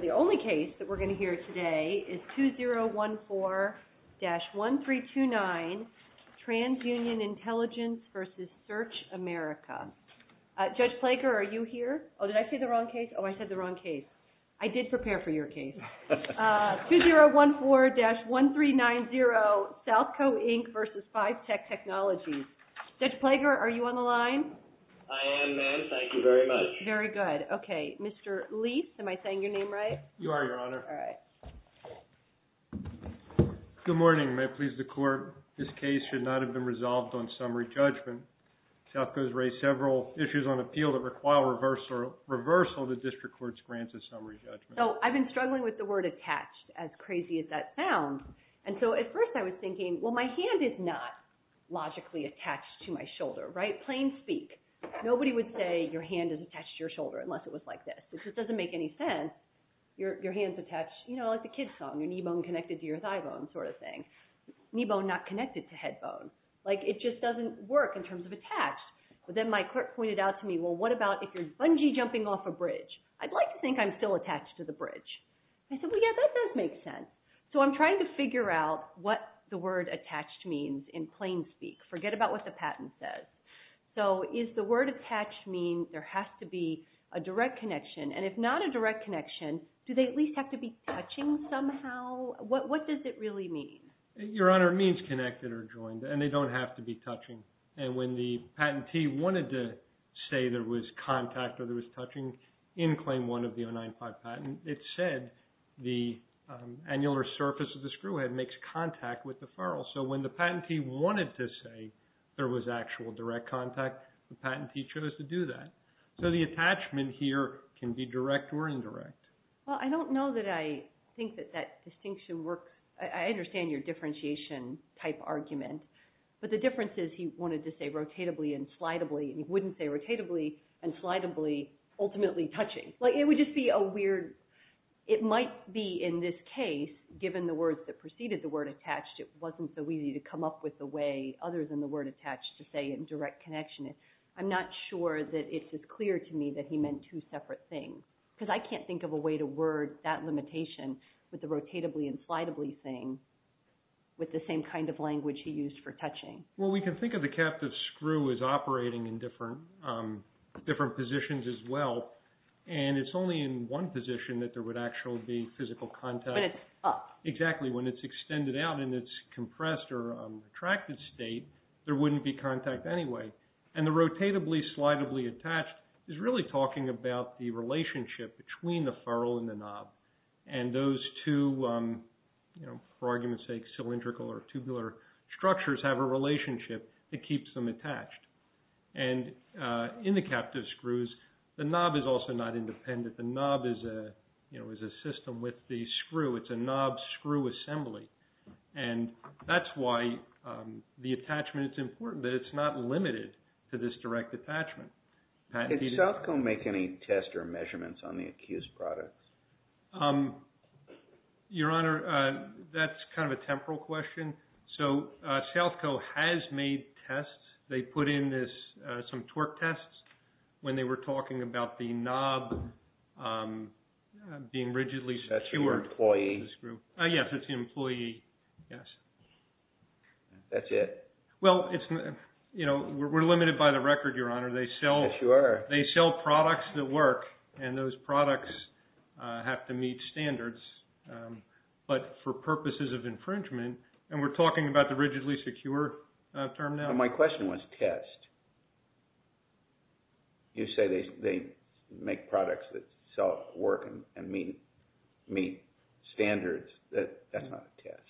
The only case that we're going to hear today is 2014-1329, TransUnion Intelligence v. Search America. Judge Plager, are you here? Oh, did I say the wrong case? Oh, I said the wrong case. I did prepare for your case. 2014-1390, Southco, Inc. v. Fivetech Technology. Judge Plager, are you on the line? I am, ma'am. Thank you very much. Very good. Okay. Mr. Leath, am I saying your name right? You are, Your Honor. All right. Good morning. May it please the Court, this case should not have been resolved on summary judgment. Southco's raised several issues on appeal that require reversal of the district court's grants of summary judgment. So I've been struggling with the word attached, as crazy as that sounds. And so at first I was thinking, well, my hand is not logically attached to my shoulder, right? Plain speak. Nobody would say your hand is attached to your shoulder unless it was like this. It just doesn't make any sense. Your hand's attached, you know, like the kids song, your knee bone connected to your thigh bone sort of thing. Knee bone not connected to head bone. Like, it just doesn't work in terms of attached. But then my clerk pointed out to me, well, what about if you're bungee jumping off a bridge? I'd like to think I'm still attached to the bridge. I said, well, yeah, that does make sense. So I'm trying to figure out what the word attached means in plain speak. Forget about what the patent says. So does the word attached mean there has to be a direct connection? And if not a direct connection, do they at least have to be touching somehow? What does it really mean? Your Honor, it means connected or joined. And they don't have to be touching. And when the patentee wanted to say there was contact or there was touching in Claim 1 of the 095 patent, it said the annular surface of the screw head makes contact with the furrow. So when the patentee wanted to say there was actual direct contact, the patentee chose to do that. So the attachment here can be direct or indirect. Well, I don't know that I think that that distinction works. I understand your differentiation-type argument. But the difference is he wanted to say rotatably and slidably, and he wouldn't say rotatably and slidably, ultimately touching. Like, it would just be a weird – it might be in this case, given the words that preceded the word attached, it wasn't so easy to come up with a way other than the word attached to say in direct connection. I'm not sure that it's as clear to me that he meant two separate things. Because I can't think of a way to word that limitation with the rotatably and slidably thing with the same kind of language he used for touching. Well, we can think of the captive screw as operating in different positions as well. And it's only in one position that there would actually be physical contact. When it's up. Exactly. When it's extended out and it's compressed or in a tracted state, there wouldn't be contact anyway. And the rotatably and slidably attached is really talking about the relationship between the furrow and the knob. And those two, for argument's sake, cylindrical or tubular structures have a relationship that keeps them attached. And in the captive screws, the knob is also not independent. The knob is a system with the screw. It's a knob screw assembly. And that's why the attachment is important, that it's not limited to this direct attachment. Did Southco make any tests or measurements on the accused products? Your Honor, that's kind of a temporal question. So Southco has made tests. They put in some torque tests when they were talking about the knob being rigidly secured. That's for your employee? Yes, it's the employee, yes. That's it? Well, we're limited by the record, Your Honor. They sell products that work, and those products have to meet standards. But for purposes of infringement, and we're talking about the rigidly secure term now. My question was test. You say they make products that sell, work, and meet standards. That's not a test.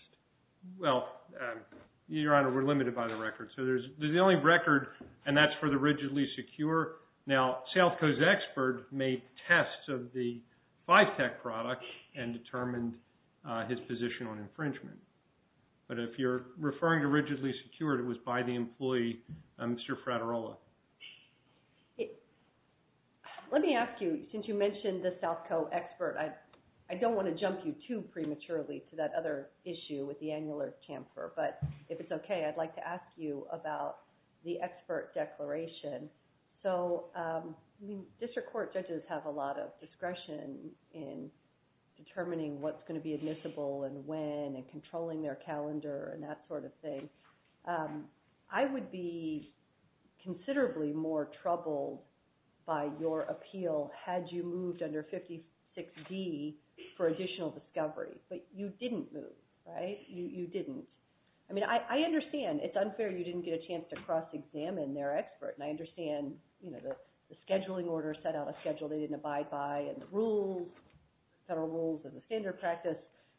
Well, Your Honor, we're limited by the record. So there's the only record, and that's for the rigidly secure. Now, Southco's expert made tests of the Fivetech product and determined his position on infringement. But if you're referring to rigidly secured, it was by the employee, I'm sure Fraterola. Let me ask you, since you mentioned the Southco expert, I don't want to jump you too prematurely to that other issue with the annular chamfer. But if it's okay, I'd like to ask you about the expert declaration. So district court judges have a lot of discretion in determining what's going to be admissible and when and controlling their calendar and that sort of thing. I would be considerably more troubled by your appeal had you moved under 56D for additional discovery. But you didn't move, right? You didn't. I mean, I understand. It's unfair you didn't get a chance to cross-examine their expert. And I understand the scheduling order set out a schedule they didn't abide by and the rules, federal rules of the standard practice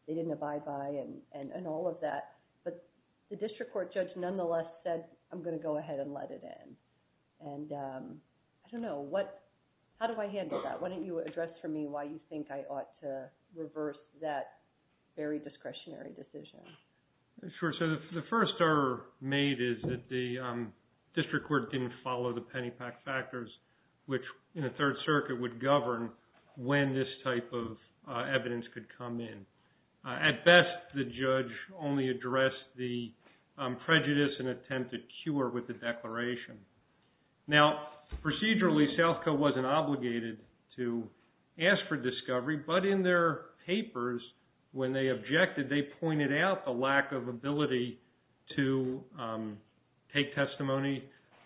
they didn't abide by and all of that. But the district court judge nonetheless said, I'm going to go ahead and let it in. And I don't know. How do I handle that? Why don't you address for me why you think I ought to reverse that very discretionary decision? Sure. So the first error made is that the district court didn't follow the Pennypack factors, which in the Third Circuit would govern when this type of evidence could come in. At best, the judge only addressed the prejudice and attempted cure with the declaration. Now, procedurally, SouthCo wasn't obligated to ask for discovery. But in their papers, when they objected, they pointed out the lack of ability to take testimony,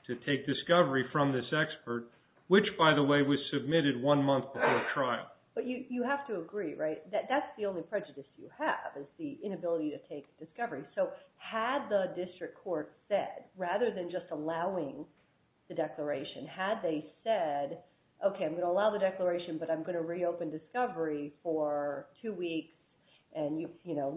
to take discovery from this expert, which, by the way, was submitted one month before trial. But you have to agree, right? That's the only prejudice you have is the inability to take discovery. So had the district court said, rather than just allowing the declaration, had they said, okay, I'm going to allow the declaration, but I'm going to reopen discovery for two weeks, and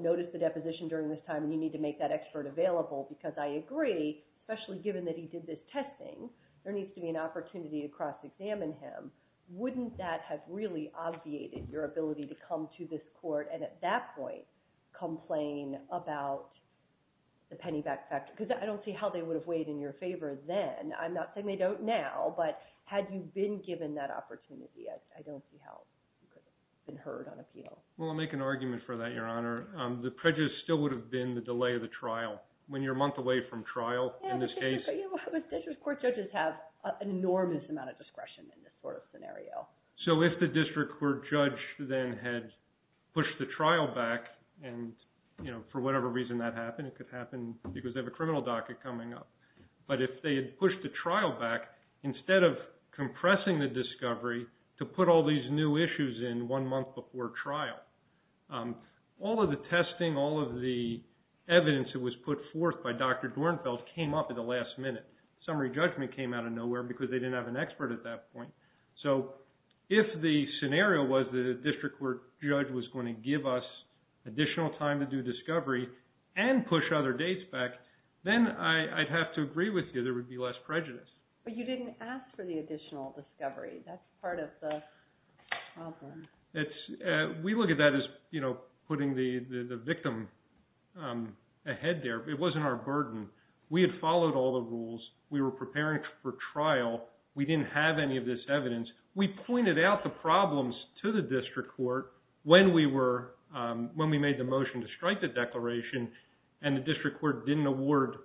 notice the deposition during this time, and you need to make that expert available, because I agree, especially given that he did this testing, there needs to be an opportunity to cross-examine him. Wouldn't that have really obviated your ability to come to this court and at that point complain about the Pennypack factor? Because I don't see how they would have weighed in your favor then. I'm not saying they don't now, but had you been given that opportunity, I don't see how you could have been heard on a penal. Well, I'll make an argument for that, Your Honor. The prejudice still would have been the delay of the trial, when you're a month away from trial in this case. District court judges have an enormous amount of discretion in this sort of scenario. So if the district court judge then had pushed the trial back, and for whatever reason that happened, it could happen because they have a criminal docket coming up. But if they had pushed the trial back, instead of compressing the discovery to put all these new issues in one month before trial, all of the testing, all of the evidence that was put forth by Dr. Dornfeld came up at the last minute. Summary judgment came out of nowhere because they didn't have an expert at that point. So if the scenario was that a district court judge was going to give us additional time to do discovery and push other dates back, then I'd have to agree with you there would be less prejudice. But you didn't ask for the additional discovery. That's part of the problem. We look at that as putting the victim ahead there. It wasn't our burden. We had followed all the rules. We were preparing for trial. We didn't have any of this evidence. We pointed out the problems to the district court when we made the motion to strike the declaration, and the district court didn't award,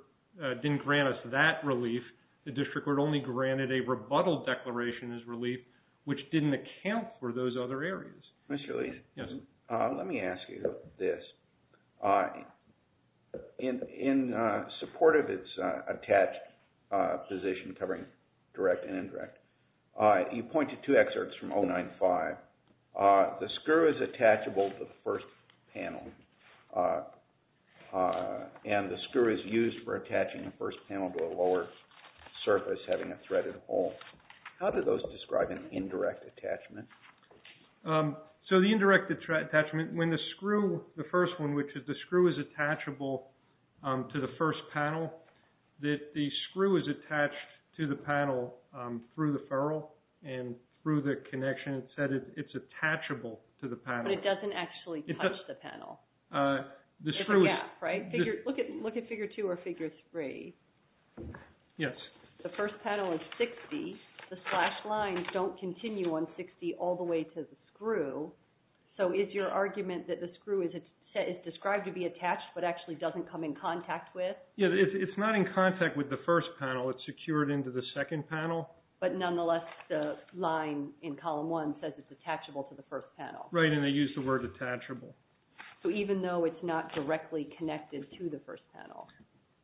didn't grant us that relief. The district court only granted a rebuttal declaration as relief, which didn't account for those other areas. Mr. Lee, let me ask you this. In support of its attached position covering direct and indirect, you pointed to excerpts from 095. The screw is attachable to the first panel, and the screw is used for attaching the first panel to a lower surface having a threaded hole. How do those describe an indirect attachment? So the indirect attachment, when the screw, the first one, which is the screw is attachable to the first panel, that the screw is attached to the panel through the ferrule and through the connection, it's attachable to the panel. But it doesn't actually touch the panel. There's a gap, right? Look at Figure 2 or Figure 3. Yes. The first panel is 60. The slash lines don't continue on 60 all the way to the screw. So is your argument that the screw is described to be attached but actually doesn't come in contact with? Yes, it's not in contact with the first panel. It's secured into the second panel. But nonetheless, the line in Column 1 says it's attachable to the first panel. Right, and they use the word attachable. So even though it's not directly connected to the first panel.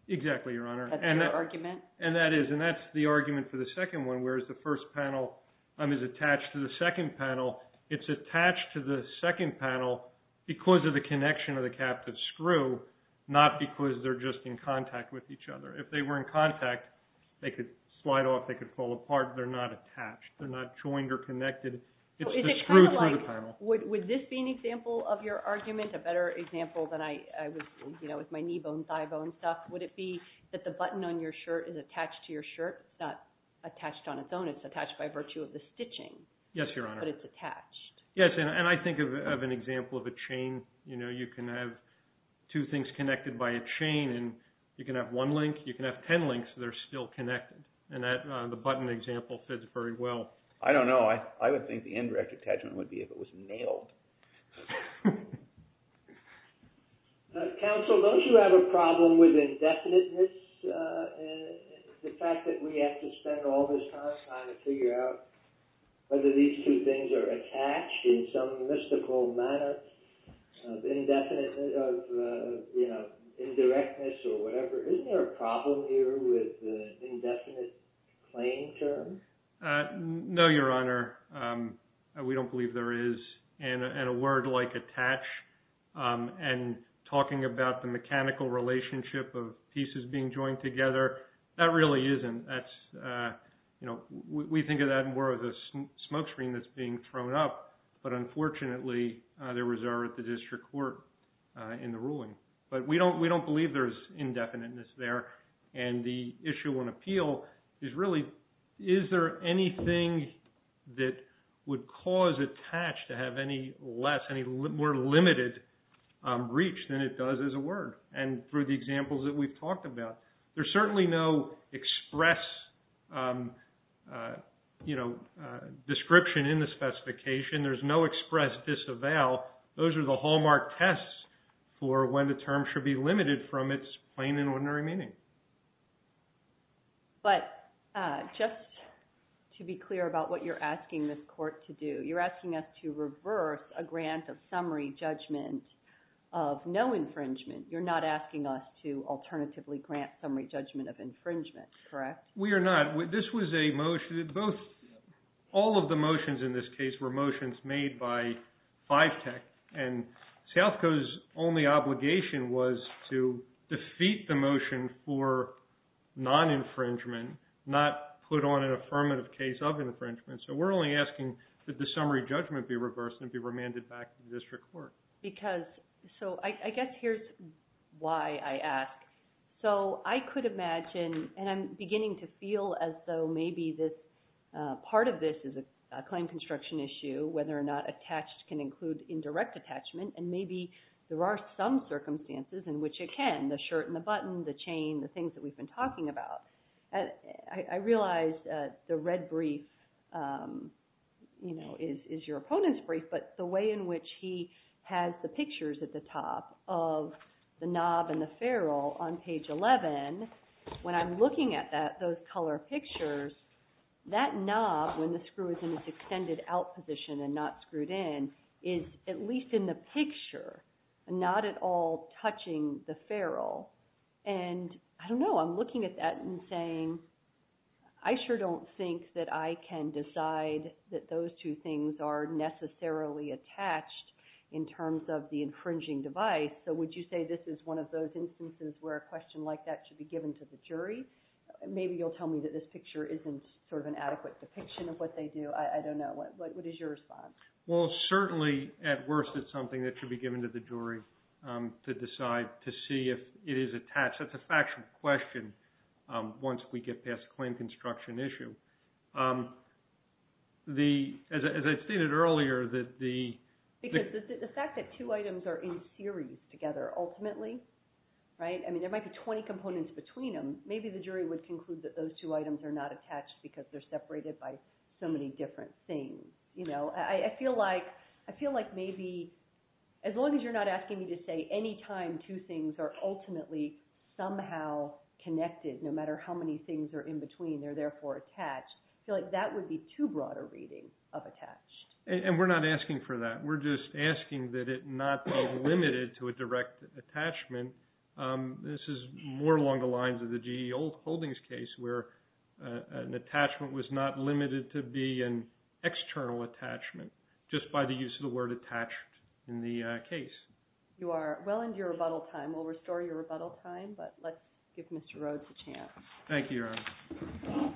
Exactly, Your Honor. That's your argument? And that is, and that's the argument for the second one, whereas the first panel is attached to the second panel. It's attached to the second panel because of the connection of the captive screw, not because they're just in contact with each other. If they were in contact, they could slide off, they could fall apart. They're not attached. They're not joined or connected. It's the screw through the panel. Would this be an example of your argument, a better example than I was, you know, with my knee bone, thigh bone stuff? Would it be that the button on your shirt is attached to your shirt? It's not attached on its own. It's attached by virtue of the stitching. Yes, Your Honor. But it's attached. Yes, and I think of an example of a chain. You know, you can have two things connected by a chain, and you can have one link, you can have ten links that are still connected. And the button example fits very well. I don't know. I would think the indirect attachment would be if it was nailed. Counsel, don't you have a problem with indefiniteness? The fact that we have to spend all this time trying to figure out whether these two things are attached in some mystical manner of indefiniteness, of, you know, indirectness or whatever. Isn't there a problem here with the indefinite claim term? No, Your Honor. We don't believe there is. And a word like attach and talking about the mechanical relationship of pieces being joined together, that really isn't. That's, you know, we think of that more as a smokescreen that's being thrown up. But, unfortunately, there was error at the district court in the ruling. But we don't believe there's indefiniteness there. And the issue on appeal is really, is there anything that would cause attach to have any less, any more limited reach than it does as a word? And through the examples that we've talked about, there's certainly no express, you know, description in the specification. There's no express disavow. Those are the hallmark tests for when the term should be limited from its plain and ordinary meaning. But just to be clear about what you're asking this court to do, you're asking us to reverse a grant of summary judgment of no infringement. You're not asking us to alternatively grant summary judgment of infringement, correct? We are not. This was a motion that both, all of the motions in this case were motions made by Fivetech. And Sealthco's only obligation was to defeat the motion for non-infringement, not put on an affirmative case of infringement. So we're only asking that the summary judgment be reversed and be remanded back to the district court. Because, so I guess here's why I ask. So I could imagine, and I'm beginning to feel as though maybe this, part of this is a claim construction issue, whether or not attached can include indirect attachment. And maybe there are some circumstances in which it can, the shirt and the button, the chain, the things that we've been talking about. I realize the red brief is your opponent's brief, but the way in which he has the pictures at the top of the knob and the ferrule on page 11, when I'm looking at those color pictures, that knob, when the screw is in its extended out position and not screwed in, is at least in the picture, not at all touching the ferrule. And I don't know, I'm looking at that and saying, I sure don't think that I can decide that those two things are necessarily attached in terms of the infringing device. So would you say this is one of those instances where a question like that should be given to the jury? Maybe you'll tell me that this picture isn't sort of an adequate depiction of what they do. I don't know. What is your response? Well, certainly, at worst, it's something that should be given to the jury to decide to see if it is attached. That's a factual question once we get past the claim construction issue. As I stated earlier, that the... Because the fact that two items are in series together, ultimately, right? I mean, there might be 20 components between them. Maybe the jury would conclude that those two items are not attached because they're separated by so many different things. I feel like maybe, as long as you're not asking me to say any time two things are ultimately somehow connected, no matter how many things are in between, they're therefore attached. I feel like that would be too broad a reading of attached. And we're not asking for that. We're just asking that it not be limited to a direct attachment. This is more along the lines of the G.E. Holdings case where an attachment was not limited to be an external attachment, just by the use of the word attached in the case. You are well into your rebuttal time. We'll restore your rebuttal time, but let's give Mr. Rhodes a chance. Thank you, Your Honor.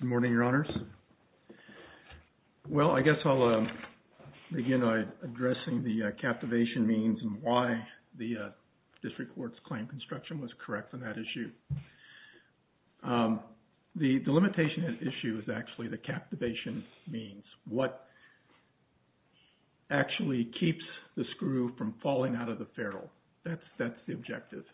Good morning, Your Honors. Well, I guess I'll begin by addressing the captivation means and why the district court's claim construction was correct on that issue. The limitation issue is actually the captivation means. What actually keeps the screw from falling out of the ferrule? That's the objective.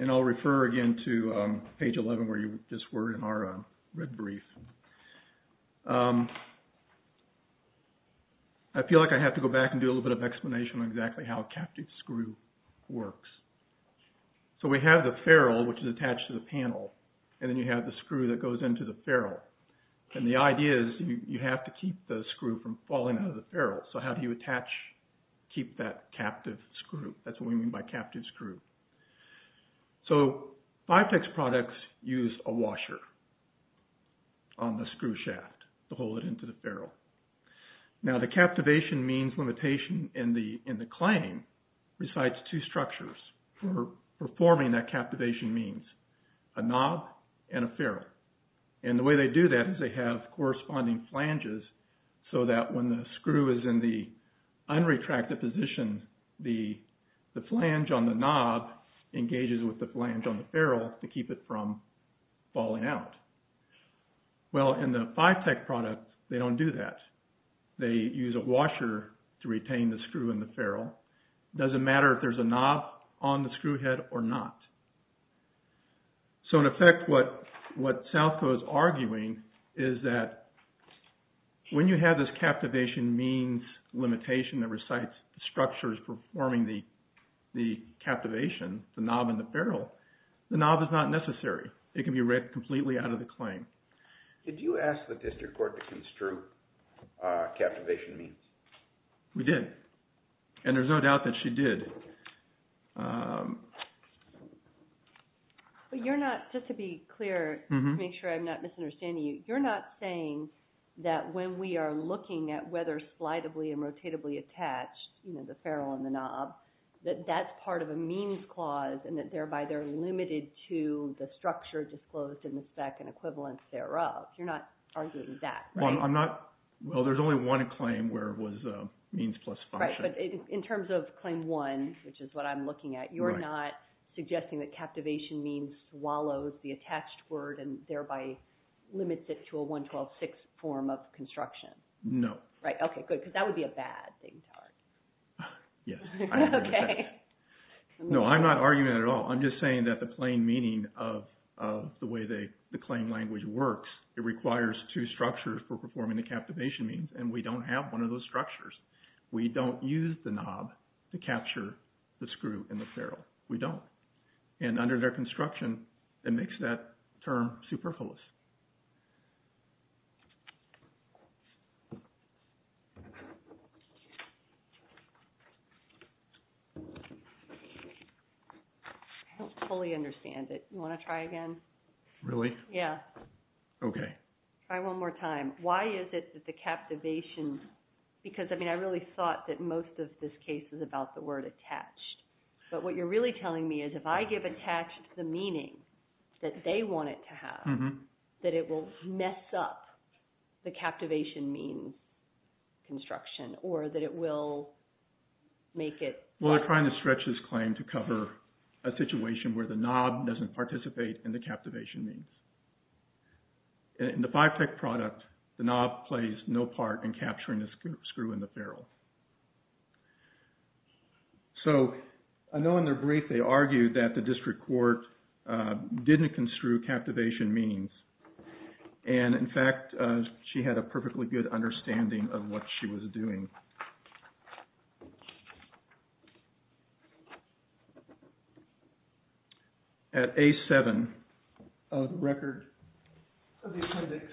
And I'll refer again to page 11 where you just were in our red brief. I feel like I have to go back and do a little bit of explanation on exactly how a captive screw works. So we have the ferrule, which is attached to the panel, and then you have the screw that goes into the ferrule. And the idea is you have to keep the screw from falling out of the ferrule. So how do you attach, keep that captive screw? That's what we mean by captive screw. So Vitex products use a washer on the screw shaft to hold it into the ferrule. Now, the captivation means limitation in the claim resides two structures. For forming that captivation means a knob and a ferrule. And the way they do that is they have corresponding flanges so that when the screw is in the unretracted position, the flange on the knob engages with the flange on the ferrule to keep it from falling out. Well, in the Vitex product, they don't do that. They use a washer to retain the screw in the ferrule. It doesn't matter if there's a knob on the screw head or not. So in effect, what Southco is arguing is that when you have this captivation means limitation that resides structures for forming the captivation, the knob and the ferrule, the knob is not necessary. It can be ripped completely out of the claim. Did you ask the district court to construe captivation means? We did, and there's no doubt that she did. But you're not, just to be clear, to make sure I'm not misunderstanding you, you're not saying that when we are looking at whether slidably and rotatably attached, you know, the ferrule and the knob, that that's part of a means clause and that thereby they're limited to the structure disclosed in the spec and equivalents thereof. You're not arguing that, right? Well, I'm not. Well, there's only one claim where it was a means plus function. Right, but in terms of claim one, which is what I'm looking at, you're not suggesting that captivation means swallows the attached word and thereby limits it to a 112-6 form of construction. No. Right, okay, good, because that would be a bad thing to argue. Yes. Okay. No, I'm not arguing that at all. I'm just saying that the plain meaning of the way the claim language works, it requires two structures for performing the captivation means, and we don't have one of those structures. We don't use the knob to capture the screw and the ferrule. We don't. And under their construction, it makes that term superfluous. I don't fully understand it. You want to try again? Really? Yeah. Okay. Try one more time. Why is it that the captivation, because, I mean, I really thought that most of this case is about the word attached, but what you're really telling me is if I give attached the meaning that they want it to have, that it will mess up the captivation means construction, or that it will make it… Well, they're trying to stretch this claim to cover a situation where the knob doesn't participate in the captivation means. In the Fivetech product, the knob plays no part in capturing the screw and the ferrule. So I know in their brief they argued that the district court didn't construe captivation means, and in fact she had a perfectly good understanding of what she was doing. At A7 of the record of the appendix.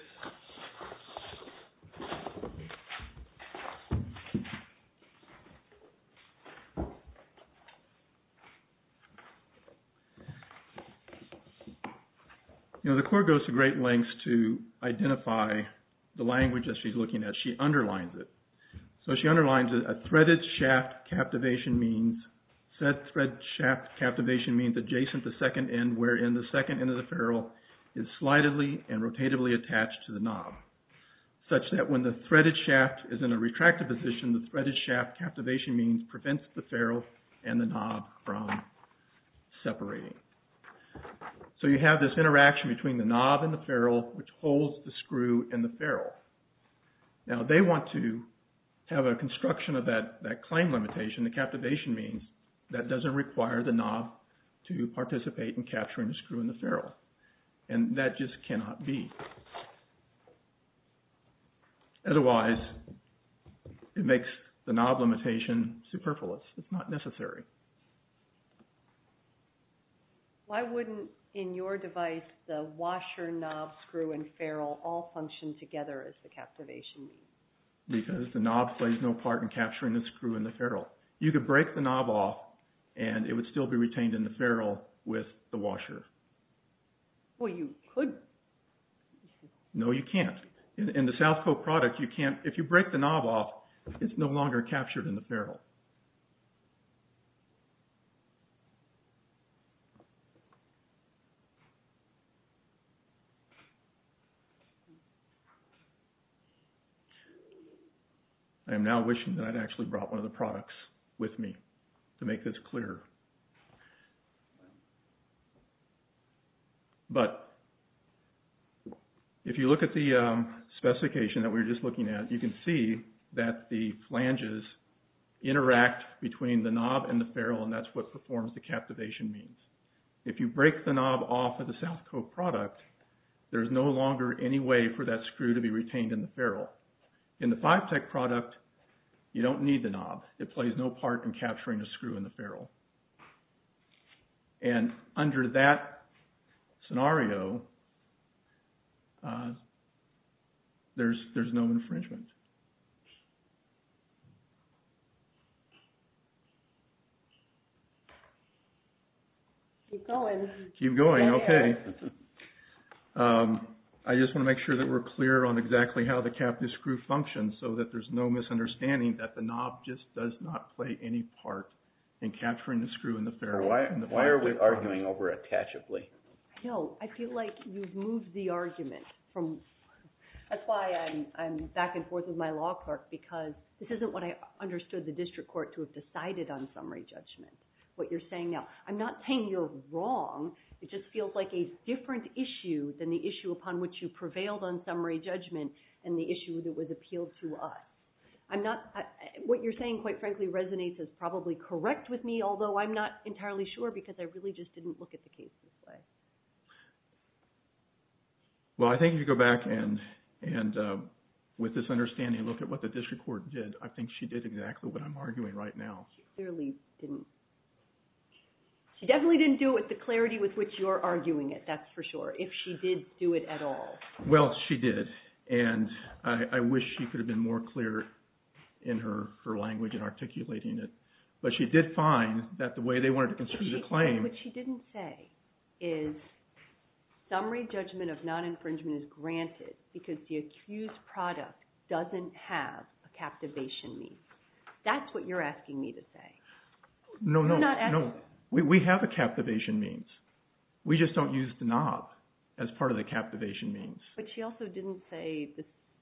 You know, the court goes to great lengths to identify the language that she's looking at. She underlines it. So she underlines that a threaded shaft captivation means, said thread shaft captivation means adjacent to second end, wherein the second end of the ferrule is slightly and rotatively attached to the knob, such that when the threaded shaft is in a retracted position, the threaded shaft captivation means prevents the ferrule and the knob from separating. So you have this interaction between the knob and the ferrule, which holds the screw and the ferrule. Now they want to have a construction of that claim limitation. The captivation means that doesn't require the knob to participate in capturing the screw and the ferrule. And that just cannot be. Otherwise, it makes the knob limitation superfluous. It's not necessary. Why wouldn't in your device the washer, knob, screw, and ferrule all function together as the captivation means? Because the knob plays no part in capturing the screw and the ferrule. You could break the knob off and it would still be retained in the ferrule with the washer. Well, you could. No, you can't. In the Southcote product, you can't. I am now wishing that I'd actually brought one of the products with me to make this clearer. But if you look at the specification that we were just looking at, you can see that the flanges interact between the knob and the ferrule, and that's what performs the captivation means. If you break the knob off of the Southcote product, there's no longer any way for that screw to be retained in the ferrule. In the Fivetech product, you don't need the knob. It plays no part in capturing the screw and the ferrule. And under that scenario, there's no infringement. Keep going. Keep going, okay. I just want to make sure that we're clear on exactly how the captive screw functions so that there's no misunderstanding that the knob just does not play any part in capturing the screw and the ferrule. Why are we arguing over it catchably? I feel like you've moved the argument. That's why I'm back and forth with my law clerk because this isn't what I understood the district court to have decided on summary judgment, what you're saying now. I'm not saying you're wrong. It just feels like a different issue than the issue upon which you prevailed on summary judgment and the issue that was appealed to us. What you're saying, quite frankly, resonates as probably correct with me, although I'm not entirely sure because I really just didn't look at the case this way. Well, I think you go back and with this understanding, look at what the district court did. I think she did exactly what I'm arguing right now. She clearly didn't. She definitely didn't do it with the clarity with which you're arguing it, that's for sure, if she did do it at all. Well, she did. And I wish she could have been more clear in her language and articulating it. But she did find that the way they wanted to construct the claim… What she didn't say is summary judgment of non-infringement is granted because the accused product doesn't have a captivation mean. That's what you're asking me to say. No, no, no. We have a captivation means. We just don't use the knob as part of the captivation means. But she also didn't say…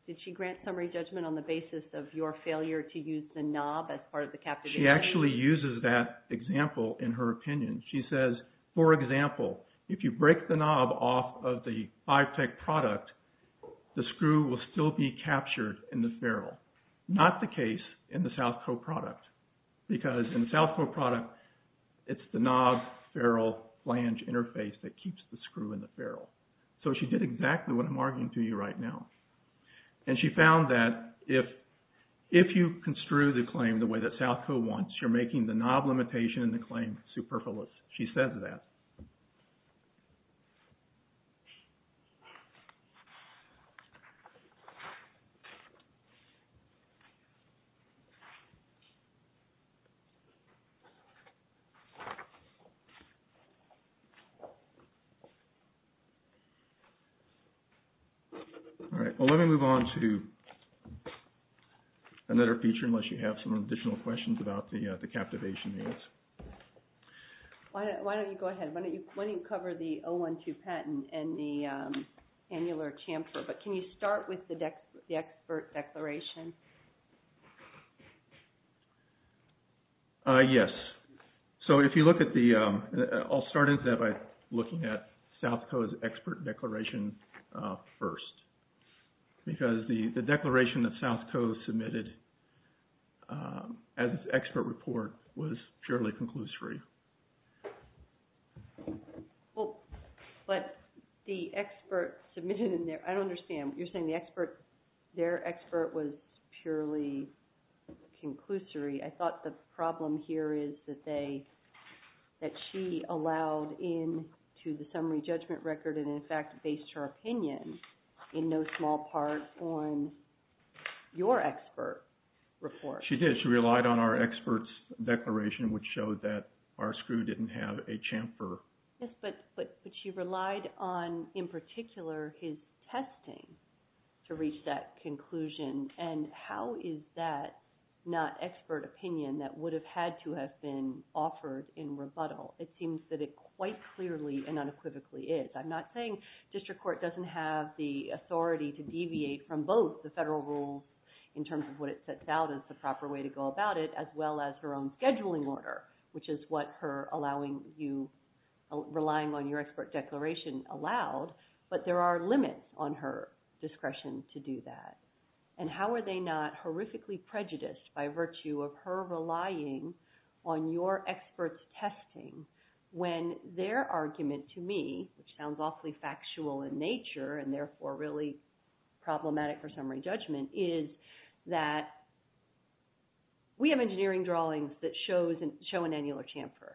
Did she grant summary judgment on the basis of your failure to use the knob as part of the captivation? She actually uses that example in her opinion. She says, for example, if you break the knob off of the 5-Tec product, the screw will still be captured in the ferrule. Not the case in the SouthCo product because in the SouthCo product, it's the knob-ferrule-flange interface that keeps the screw in the ferrule. So she did exactly what I'm arguing to you right now. And she found that if you construe the claim the way that SouthCo wants, you're making the knob limitation in the claim superfluous. She says that. All right. Well, let me move on to another feature unless you have some additional questions about the captivation means. Why don't you go ahead? Why don't you cover the O-1-2 patent and the annular chamfer, Yes. Okay. Yes. So if you look at the – I'll start into that by looking at SouthCo's expert declaration first because the declaration that SouthCo submitted as expert report was purely conclusory. Well, but the expert submitted in there – I don't understand. You're saying the expert – their expert was purely conclusory. I thought the problem here is that they – that she allowed in to the summary judgment record and, in fact, based her opinion in no small part on your expert report. She did. She relied on our expert's declaration, which showed that our screw didn't have a chamfer. Yes, but she relied on, in particular, his testing to reach that conclusion. And how is that not expert opinion that would have had to have been offered in rebuttal? It seems that it quite clearly and unequivocally is. I'm not saying district court doesn't have the authority to deviate from both the federal rules in terms of what it sets out as the proper way to go about it as well as her own scheduling order, which is what her allowing you – relying on your expert declaration allowed, but there are limits on her discretion to do that. And how are they not horrifically prejudiced by virtue of her relying on your expert's testing when their argument to me, which sounds awfully factual in nature and, therefore, really problematic for summary judgment, is that we have engineering drawings that show an annular chamfer.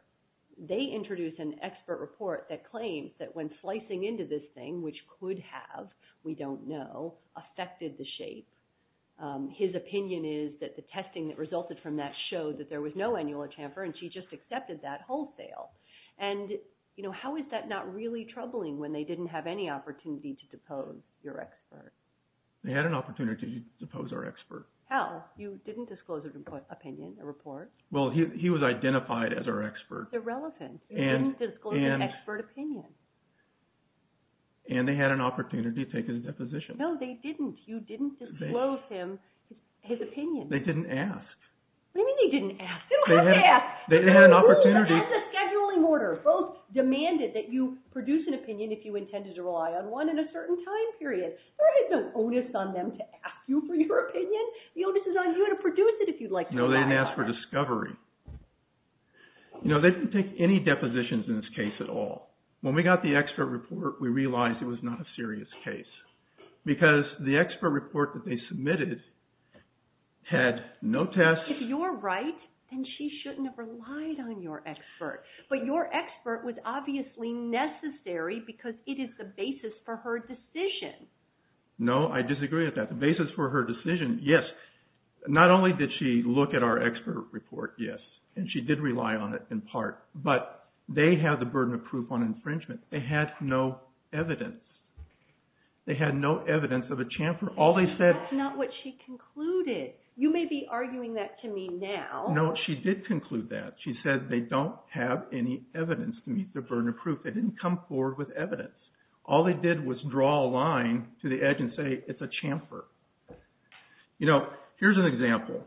They introduce an expert report that claims that when slicing into this thing, which could have, we don't know, affected the shape, his opinion is that the testing that resulted from that showed that there was no annular chamfer and she just accepted that wholesale. And how is that not really troubling when they didn't have any opportunity to depose your expert? They had an opportunity to depose our expert. How? You didn't disclose his opinion, the report. Well, he was identified as our expert. Irrelevant. You didn't disclose your expert opinion. And they had an opportunity to take his deposition. No, they didn't. You didn't disclose his opinion. They didn't ask. What do you mean they didn't ask? They didn't ask. They had an opportunity. The rules of the scheduling order both demanded that you produce an opinion if you intended to rely on one in a certain time period. There is no onus on them to ask you for your opinion. The onus is on you to produce it if you'd like to rely on it. No, they didn't ask for discovery. No, they didn't take any depositions in this case at all. When we got the expert report, we realized it was not a serious case because the expert report that they submitted had no tests. If you're right, then she shouldn't have relied on your expert. But your expert was obviously necessary because it is the basis for her decision. No, I disagree with that. The basis for her decision, yes. Not only did she look at our expert report, yes, and she did rely on it in part, but they have the burden of proof on infringement. They had no evidence. They had no evidence of a chamfer. That's not what she concluded. You may be arguing that to me now. No, she did conclude that. She said they don't have any evidence to meet their burden of proof. They didn't come forward with evidence. All they did was draw a line to the edge and say it's a chamfer. Here's an example.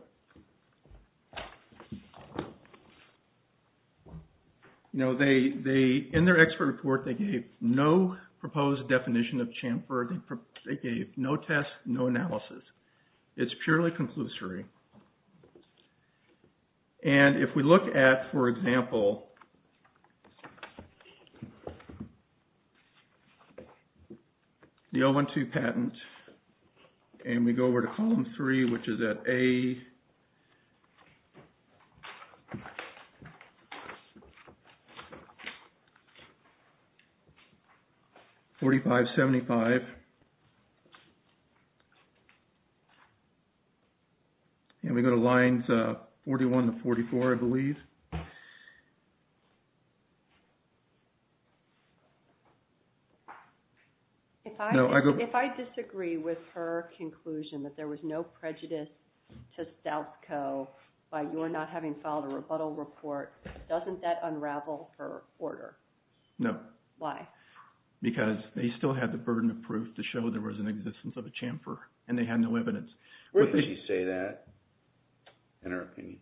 In their expert report, they gave no proposed definition of chamfer. They gave no tests, no analysis. It's purely conclusory. And if we look at, for example, the L-1-2 patent and we go over to And we go to lines 41 to 44, I believe. If I disagree with her conclusion that there was no prejudice to Stout's Co. by your not having filed a rebuttal report, doesn't that unravel her order? No. Why? Because they still had the burden of proof to show there was an existence of a chamfer, and they had no evidence. Why would you say that, in her opinion?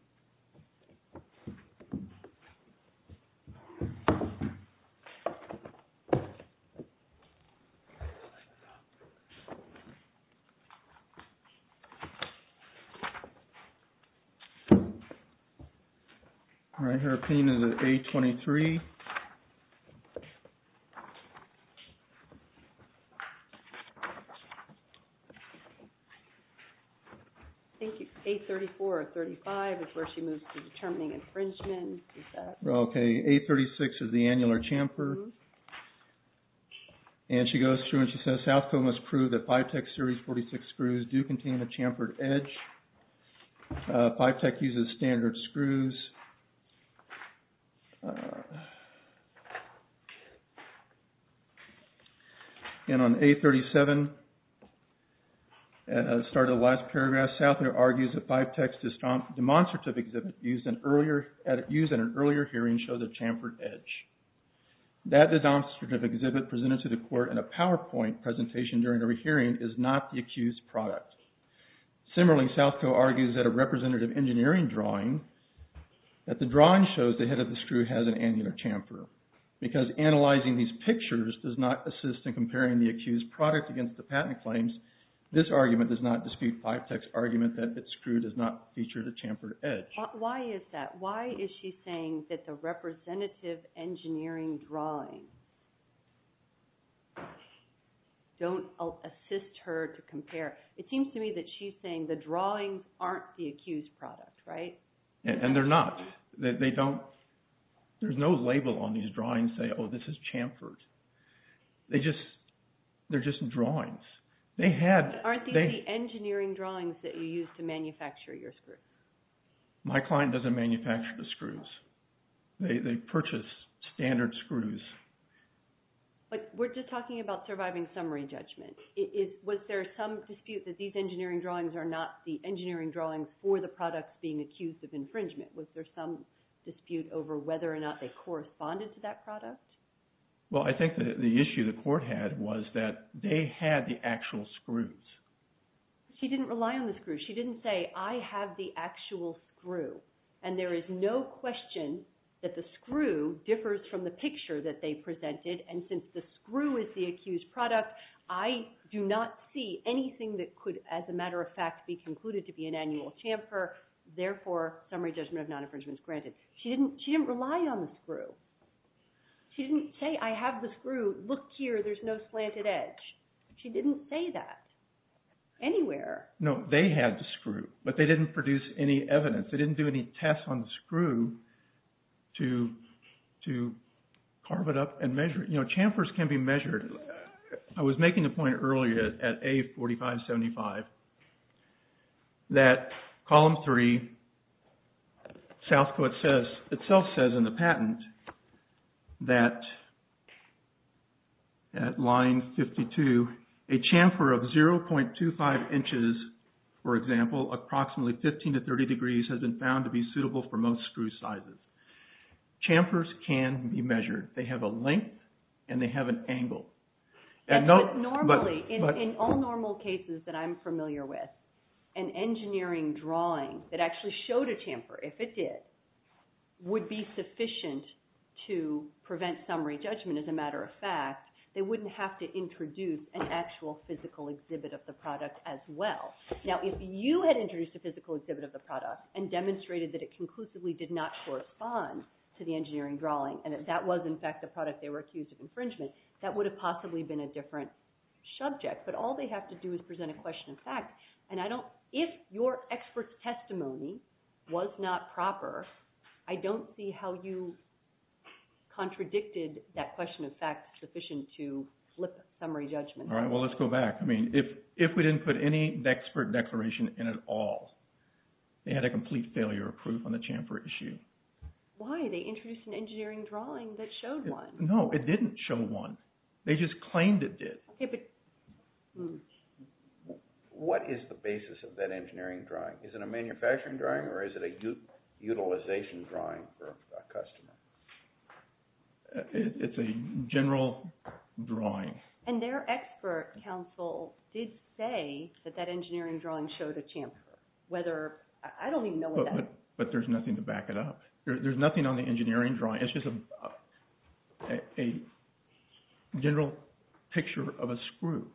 All right. In her opinion, is it A-23? I think it's A-34 or 35 is where she moves to determining infringement. Okay. A-36 is the annular chamfer. And she goes through and she says, Stout's Co. must prove that Phytech Series 46 screws do contain a chamfered edge. Phytech uses standard screws. And on A-37, at the start of the last paragraph, Stout there argues that Phytech's demonstrative exhibit used in an earlier hearing showed a chamfered edge. That demonstrative exhibit presented to the court in a PowerPoint presentation during the hearing is not the accused's product. Similarly, Stout's Co. argues that a representative engineering drawing, that the drawing shows the head of the screw has an annular chamfer. Because analyzing these pictures does not assist in comparing the accused's product against the patent claims, this argument does not dispute Phytech's argument that its screw does not feature the chamfered edge. Why is that? Why is she saying that the representative engineering drawing don't assist her to compare? It seems to me that she's saying the drawings aren't the accused's product, right? And they're not. They don't. There's no label on these drawings that say, oh, this is chamfered. They're just drawings. Aren't these the engineering drawings that you use to manufacture your screws? My client doesn't manufacture the screws. They purchase standard screws. But we're just talking about surviving summary judgment. Was there some dispute that these engineering drawings are not the engineering drawings for the products being accused of infringement? Was there some dispute over whether or not they corresponded to that product? Well, I think the issue the court had was that they had the actual screws. She didn't rely on the screws. She didn't say, I have the actual screw. And there is no question that the screw differs from the picture that they presented. And since the screw is the accused product, I do not see anything that could, as a matter of fact, be concluded to be an annual chamfer. Therefore, summary judgment of non-infringement is granted. She didn't rely on the screw. She didn't say, I have the screw. Look here. There's no slanted edge. She didn't say that anywhere. No, they had the screw. But they didn't produce any evidence. They didn't do any tests on the screw to carve it up and measure it. You know, chamfers can be measured. I was making a point earlier at A4575 that Column 3 itself says in the patent that at line 52, a chamfer of 0.25 inches, for example, approximately 15 to 30 degrees has been found to be suitable for most Chamfers can be measured. They have a length and they have an angle. Normally, in all normal cases that I'm familiar with, an engineering drawing that actually showed a chamfer, if it did, would be sufficient to prevent summary judgment. As a matter of fact, they wouldn't have to introduce an actual physical exhibit of the product as well. Now, if you had introduced a physical exhibit of the product and demonstrated that it conclusively did not correspond to the engineering drawing and that that was, in fact, the product they were accused of infringement, that would have possibly been a different subject. But all they have to do is present a question of fact. And if your expert's testimony was not proper, I don't see how you contradicted that question of fact sufficient to flip summary judgment. All right, well, let's go back. I mean, if we didn't put any expert declaration in at all, they had a complete failure of proof on the chamfer issue. Why? They introduced an engineering drawing that showed one. No, it didn't show one. They just claimed it did. Okay, but what is the basis of that engineering drawing? Is it a manufacturing drawing or is it a utilization drawing for a customer? It's a general drawing. And their expert counsel did say that that engineering drawing showed a chamfer. I don't even know what that is. But there's nothing to back it up. There's nothing on the engineering drawing. It's just a general picture of a screw.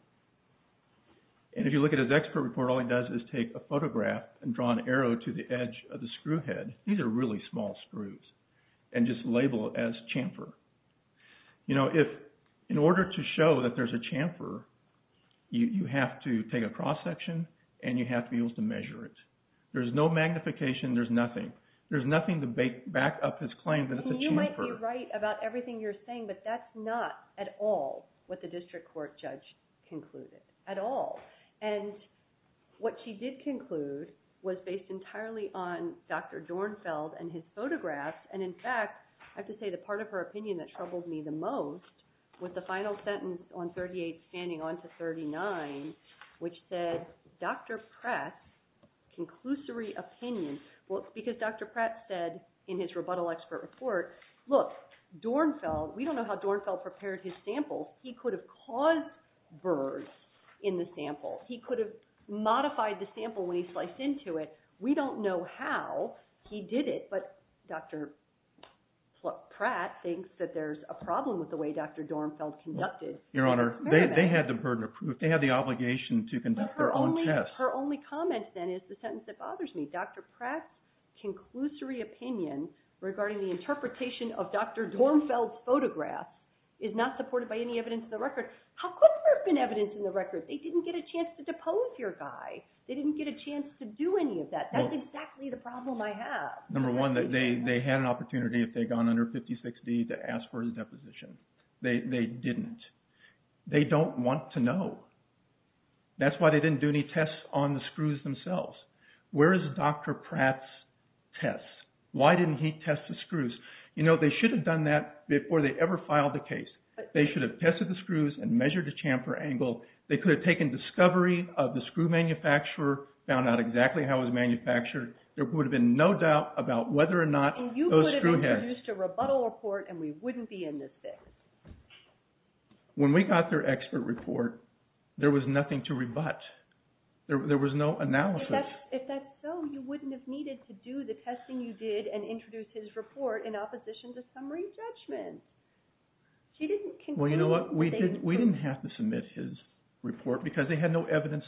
And if you look at his expert report, all he does is take a photograph and draw an arrow to the edge of the screw head. These are really small screws. And just label it as chamfer. You know, in order to show that there's a chamfer, you have to take a cross-section and you have to be able to measure it. There's no magnification. There's nothing. There's nothing to back up his claim that it's a chamfer. You might be right about everything you're saying, but that's not at all what the district court judge concluded, at all. And what she did conclude was based entirely on Dr. Dornfeld and his photographs. And, in fact, I have to say the part of her opinion that troubled me the most was the final sentence on 38 standing on to 39, which said, Dr. Pratt's conclusory opinion, because Dr. Pratt said in his rebuttal expert report, look, Dornfeld, we don't know how Dornfeld prepared his samples. He could have caused burrs in the sample. He could have modified the sample when he sliced into it. We don't know how he did it, but Dr. Pratt thinks that there's a problem with the way Dr. Dornfeld conducted. Your Honor, they had the burden of proof. They have the obligation to conduct their own tests. But her only comment, then, is the sentence that bothers me. Dr. Pratt's conclusory opinion regarding the interpretation of Dr. Dornfeld's photographs is not supported by any evidence in the record. How could there have been evidence in the record? They didn't get a chance to depose your guy. They didn't get a chance to do any of that. That's exactly the problem I have. Number one, they had an opportunity, if they'd gone under 56D, to ask for his deposition. They didn't. They don't want to know. That's why they didn't do any tests on the screws themselves. Where is Dr. Pratt's test? Why didn't he test the screws? You know, they should have done that before they ever filed the case. They should have tested the screws and measured the chamfer angle. They could have taken discovery of the screw manufacturer, found out exactly how it was manufactured. There would have been no doubt about whether or not those screw heads When we got their expert report, there was nothing to rebut. There was no analysis. If that's so, you wouldn't have needed to do the testing you did and introduce his report in opposition to summary judgment. Well, you know what, we didn't have to submit his report because they had no evidence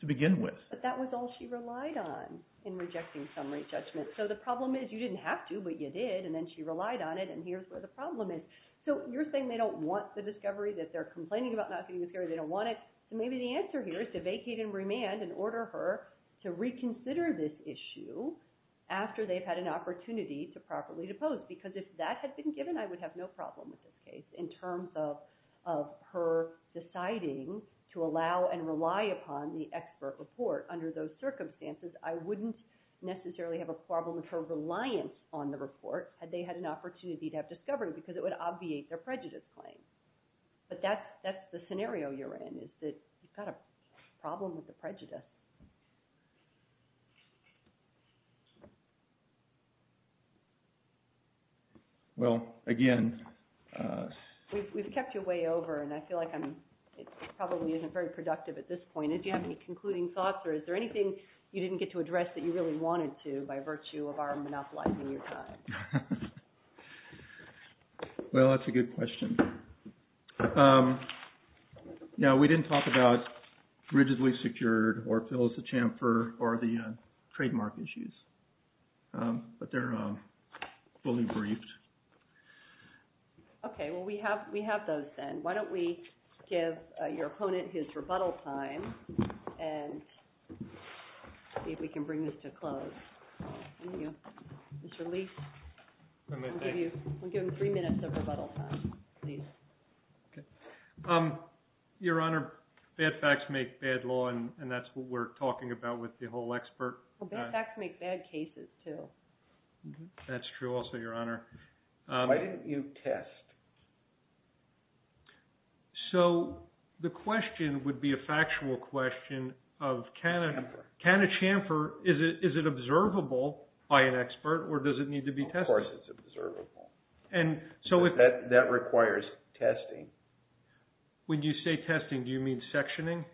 to begin with. But that was all she relied on in rejecting summary judgment. So the problem is, you didn't have to, but you did. And then she relied on it, and here's where the problem is. So you're saying they don't want the discovery, that they're complaining about not getting the discovery, they don't want it. So maybe the answer here is to vacate and remand and order her to reconsider this issue after they've had an opportunity to properly depose. Because if that had been given, I would have no problem with this case in terms of her deciding to allow and rely upon the expert report. Under those circumstances, I wouldn't necessarily have a problem with her reliance on the report, had they had an opportunity to have discovery, because it would obviate their prejudice claim. But that's the scenario you're in, is that you've got a problem with the prejudice. Well, again... We've kept you way over, and I feel like it probably isn't very productive at this point. Do you have any concluding thoughts, or is there anything you didn't get to address that you really wanted to by virtue of our monopolizing your time? Well, that's a good question. No, we didn't talk about rigidly secured or Phyllis the Champer or the trademark issues. But they're fully briefed. Okay, well, we have those then. Why don't we give your opponent his rebuttal time and see if we can bring this to a close. Thank you. Mr. Leek, we'll give him three minutes of rebuttal time, please. Your Honor, bad facts make bad law, and that's what we're talking about with the whole expert. Well, bad facts make bad cases, too. That's true also, Your Honor. Why didn't you test? So the question would be a factual question of can a Champer, is it observable by an expert, or does it need to be tested? Of course it's observable. That requires testing. When you say testing, do you mean sectioning?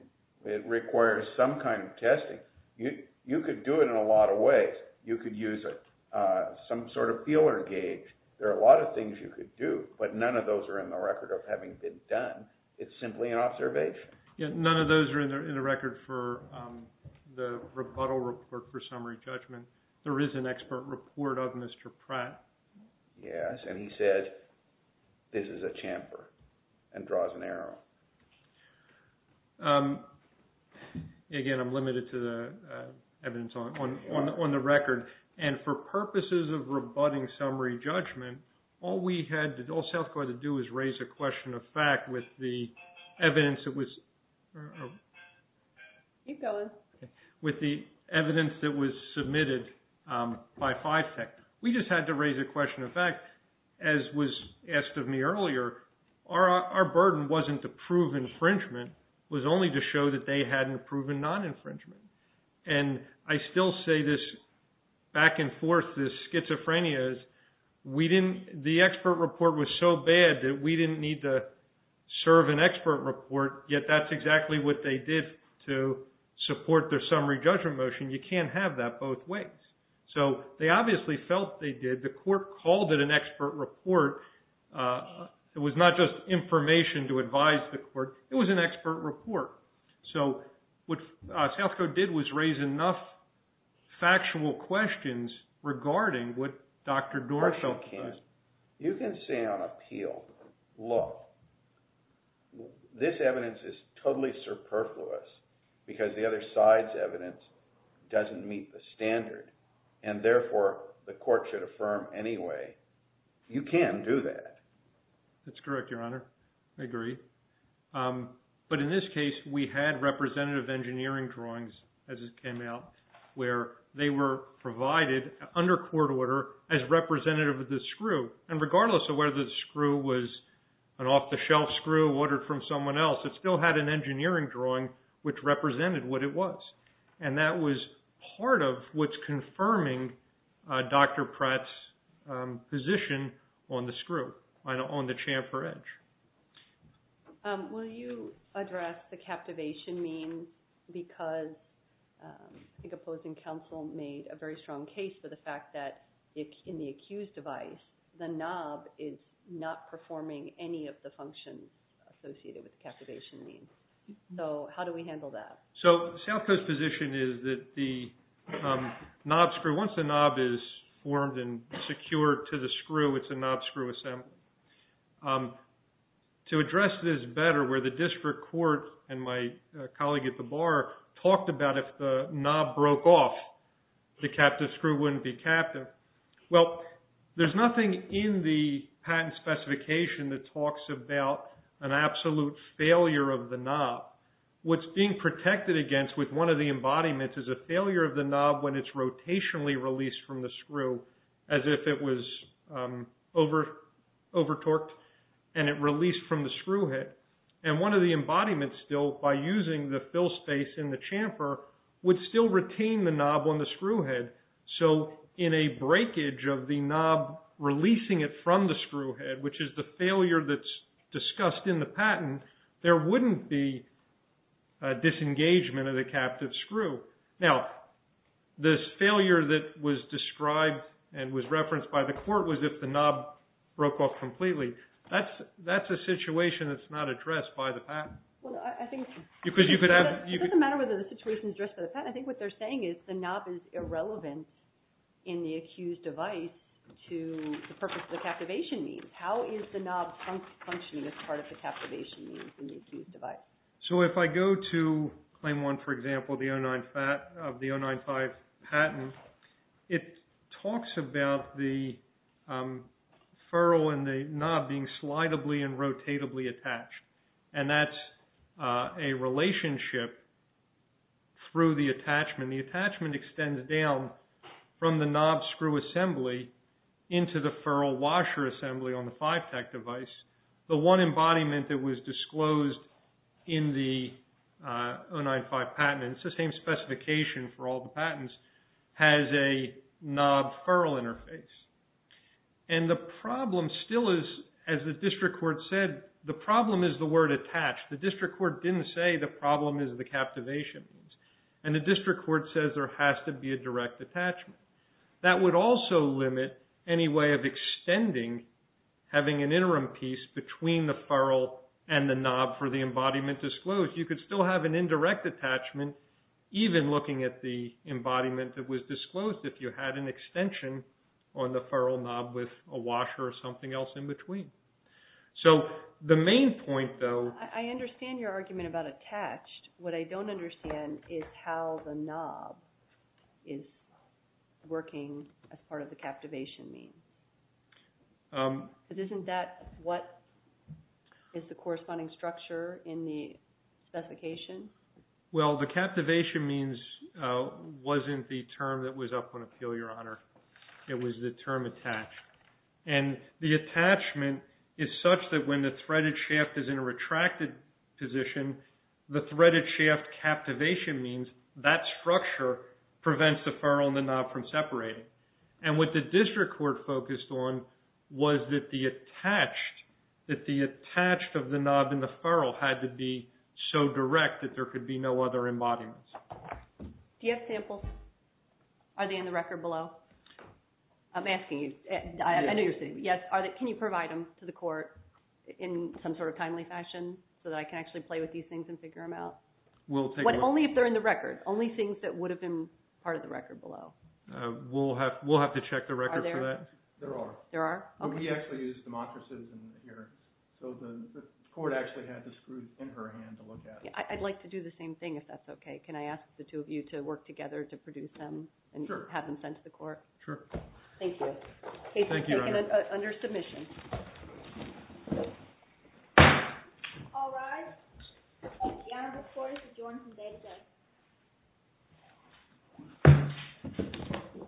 It requires some kind of testing. You could do it in a lot of ways. You could use some sort of feeler gauge. There are a lot of things you could do, but none of those are in the record of having been done. It's simply an observation. None of those are in the record for the rebuttal report for summary judgment. There is an expert report of Mr. Pratt. Yes, and he said this is a Champer and draws an arrow. Again, I'm limited to the evidence on the record. And for purposes of rebutting summary judgment, all South Dakota had to do was raise a question of fact with the evidence that was submitted by Fivetech. We just had to raise a question of fact, as was asked of me earlier. Our burden wasn't to prove infringement. It was only to show that they hadn't proven non-infringement. And I still say this back and forth, this schizophrenia. The expert report was so bad that we didn't need to serve an expert report, yet that's exactly what they did to support their summary judgment motion. You can't have that both ways. So they obviously felt they did. The court called it an expert report. It was not just information to advise the court. It was an expert report. So what South Dakota did was raise enough factual questions regarding what Dr. Dorso said. You can say on appeal, look, this evidence is totally superfluous because the other side's evidence doesn't meet the standard, and therefore the court should affirm anyway. You can do that. That's correct, Your Honor. I agree. But in this case, we had representative engineering drawings, as it came out, where they were provided under court order as representative of the screw. And regardless of whether the screw was an off-the-shelf screw ordered from someone else, it still had an engineering drawing which represented what it was. And that was part of what's confirming Dr. Pratt's position on the screw, on the Chamfer Edge. Will you address the captivation means? Because I think opposing counsel made a very strong case for the fact that in the accused device, the knob is not performing any of the functions associated with the captivation means. So how do we handle that? So South Dakota's position is that the knob screw, once the knob is formed and secured to the screw, it's a knob screw assembly. To address this better, where the district court and my colleague at the bar talked about if the knob broke off, the captive screw wouldn't be captive. Well, there's nothing in the patent specification that talks about an absolute failure of the knob. What's being protected against with one of the embodiments is a failure of the knob when it's rotationally released from the screw, as if it was over-torqued and it released from the screw head. And one of the embodiments still, by using the fill space in the chamfer, would still retain the knob on the screw head. So in a breakage of the knob releasing it from the screw head, which is the failure that's discussed in the patent, there wouldn't be disengagement of the captive screw. Now, this failure that was described and was referenced by the court was if the knob broke off completely. That's a situation that's not addressed by the patent. It doesn't matter whether the situation is addressed by the patent. I think what they're saying is the knob is irrelevant in the accused device to the purpose of the captivation needs. How is the knob functioning as part of the captivation needs in the accused device? So if I go to claim one, for example, of the 095 patent, it talks about the furrow and the knob being slidably and rotatably attached. And that's a relationship through the attachment. The attachment extends down from the knob screw assembly into the furrow washer assembly on the 5-TAC device. The one embodiment that was disclosed in the 095 patent, and it's the same specification for all the patents, has a knob-furrow interface. And the problem still is, as the district court said, the problem is the word attached. The district court didn't say the problem is the captivation needs. And the district court says there has to be a direct attachment. That would also limit any way of extending having an interim piece between the furrow and the knob for the embodiment disclosed. You could still have an indirect attachment, even looking at the embodiment that was disclosed, if you had an extension on the furrow knob with a washer or something else in between. So the main point, though... I understand your argument about attached. What I don't understand is how the knob is working as part of the captivation need. Isn't that what is the corresponding structure in the specification? Well, the captivation means wasn't the term that was up on appeal, Your Honor. It was the term attached. And the attachment is such that when the threaded shaft is in a retracted position, the threaded shaft captivation means that structure prevents the furrow and the knob from separating. And what the district court focused on was that the attached of the knob and the furrow had to be so direct that there could be no other embodiments. Do you have samples? Are they in the record below? I'm asking you. I know you're saying yes. Can you provide them to the court in some sort of timely fashion so that I can actually play with these things and figure them out? Only if they're in the record. Only things that would have been part of the record below. We'll have to check the record for that. There are. There are? We actually used the Montra system here. So the court actually had the screws in her hand to look at. I'd like to do the same thing, if that's okay. Can I ask the two of you to work together to produce them and have them sent to the court? Sure. Thank you. Thank you. Under submission. All rise. The honorable court is adjourned from day to day.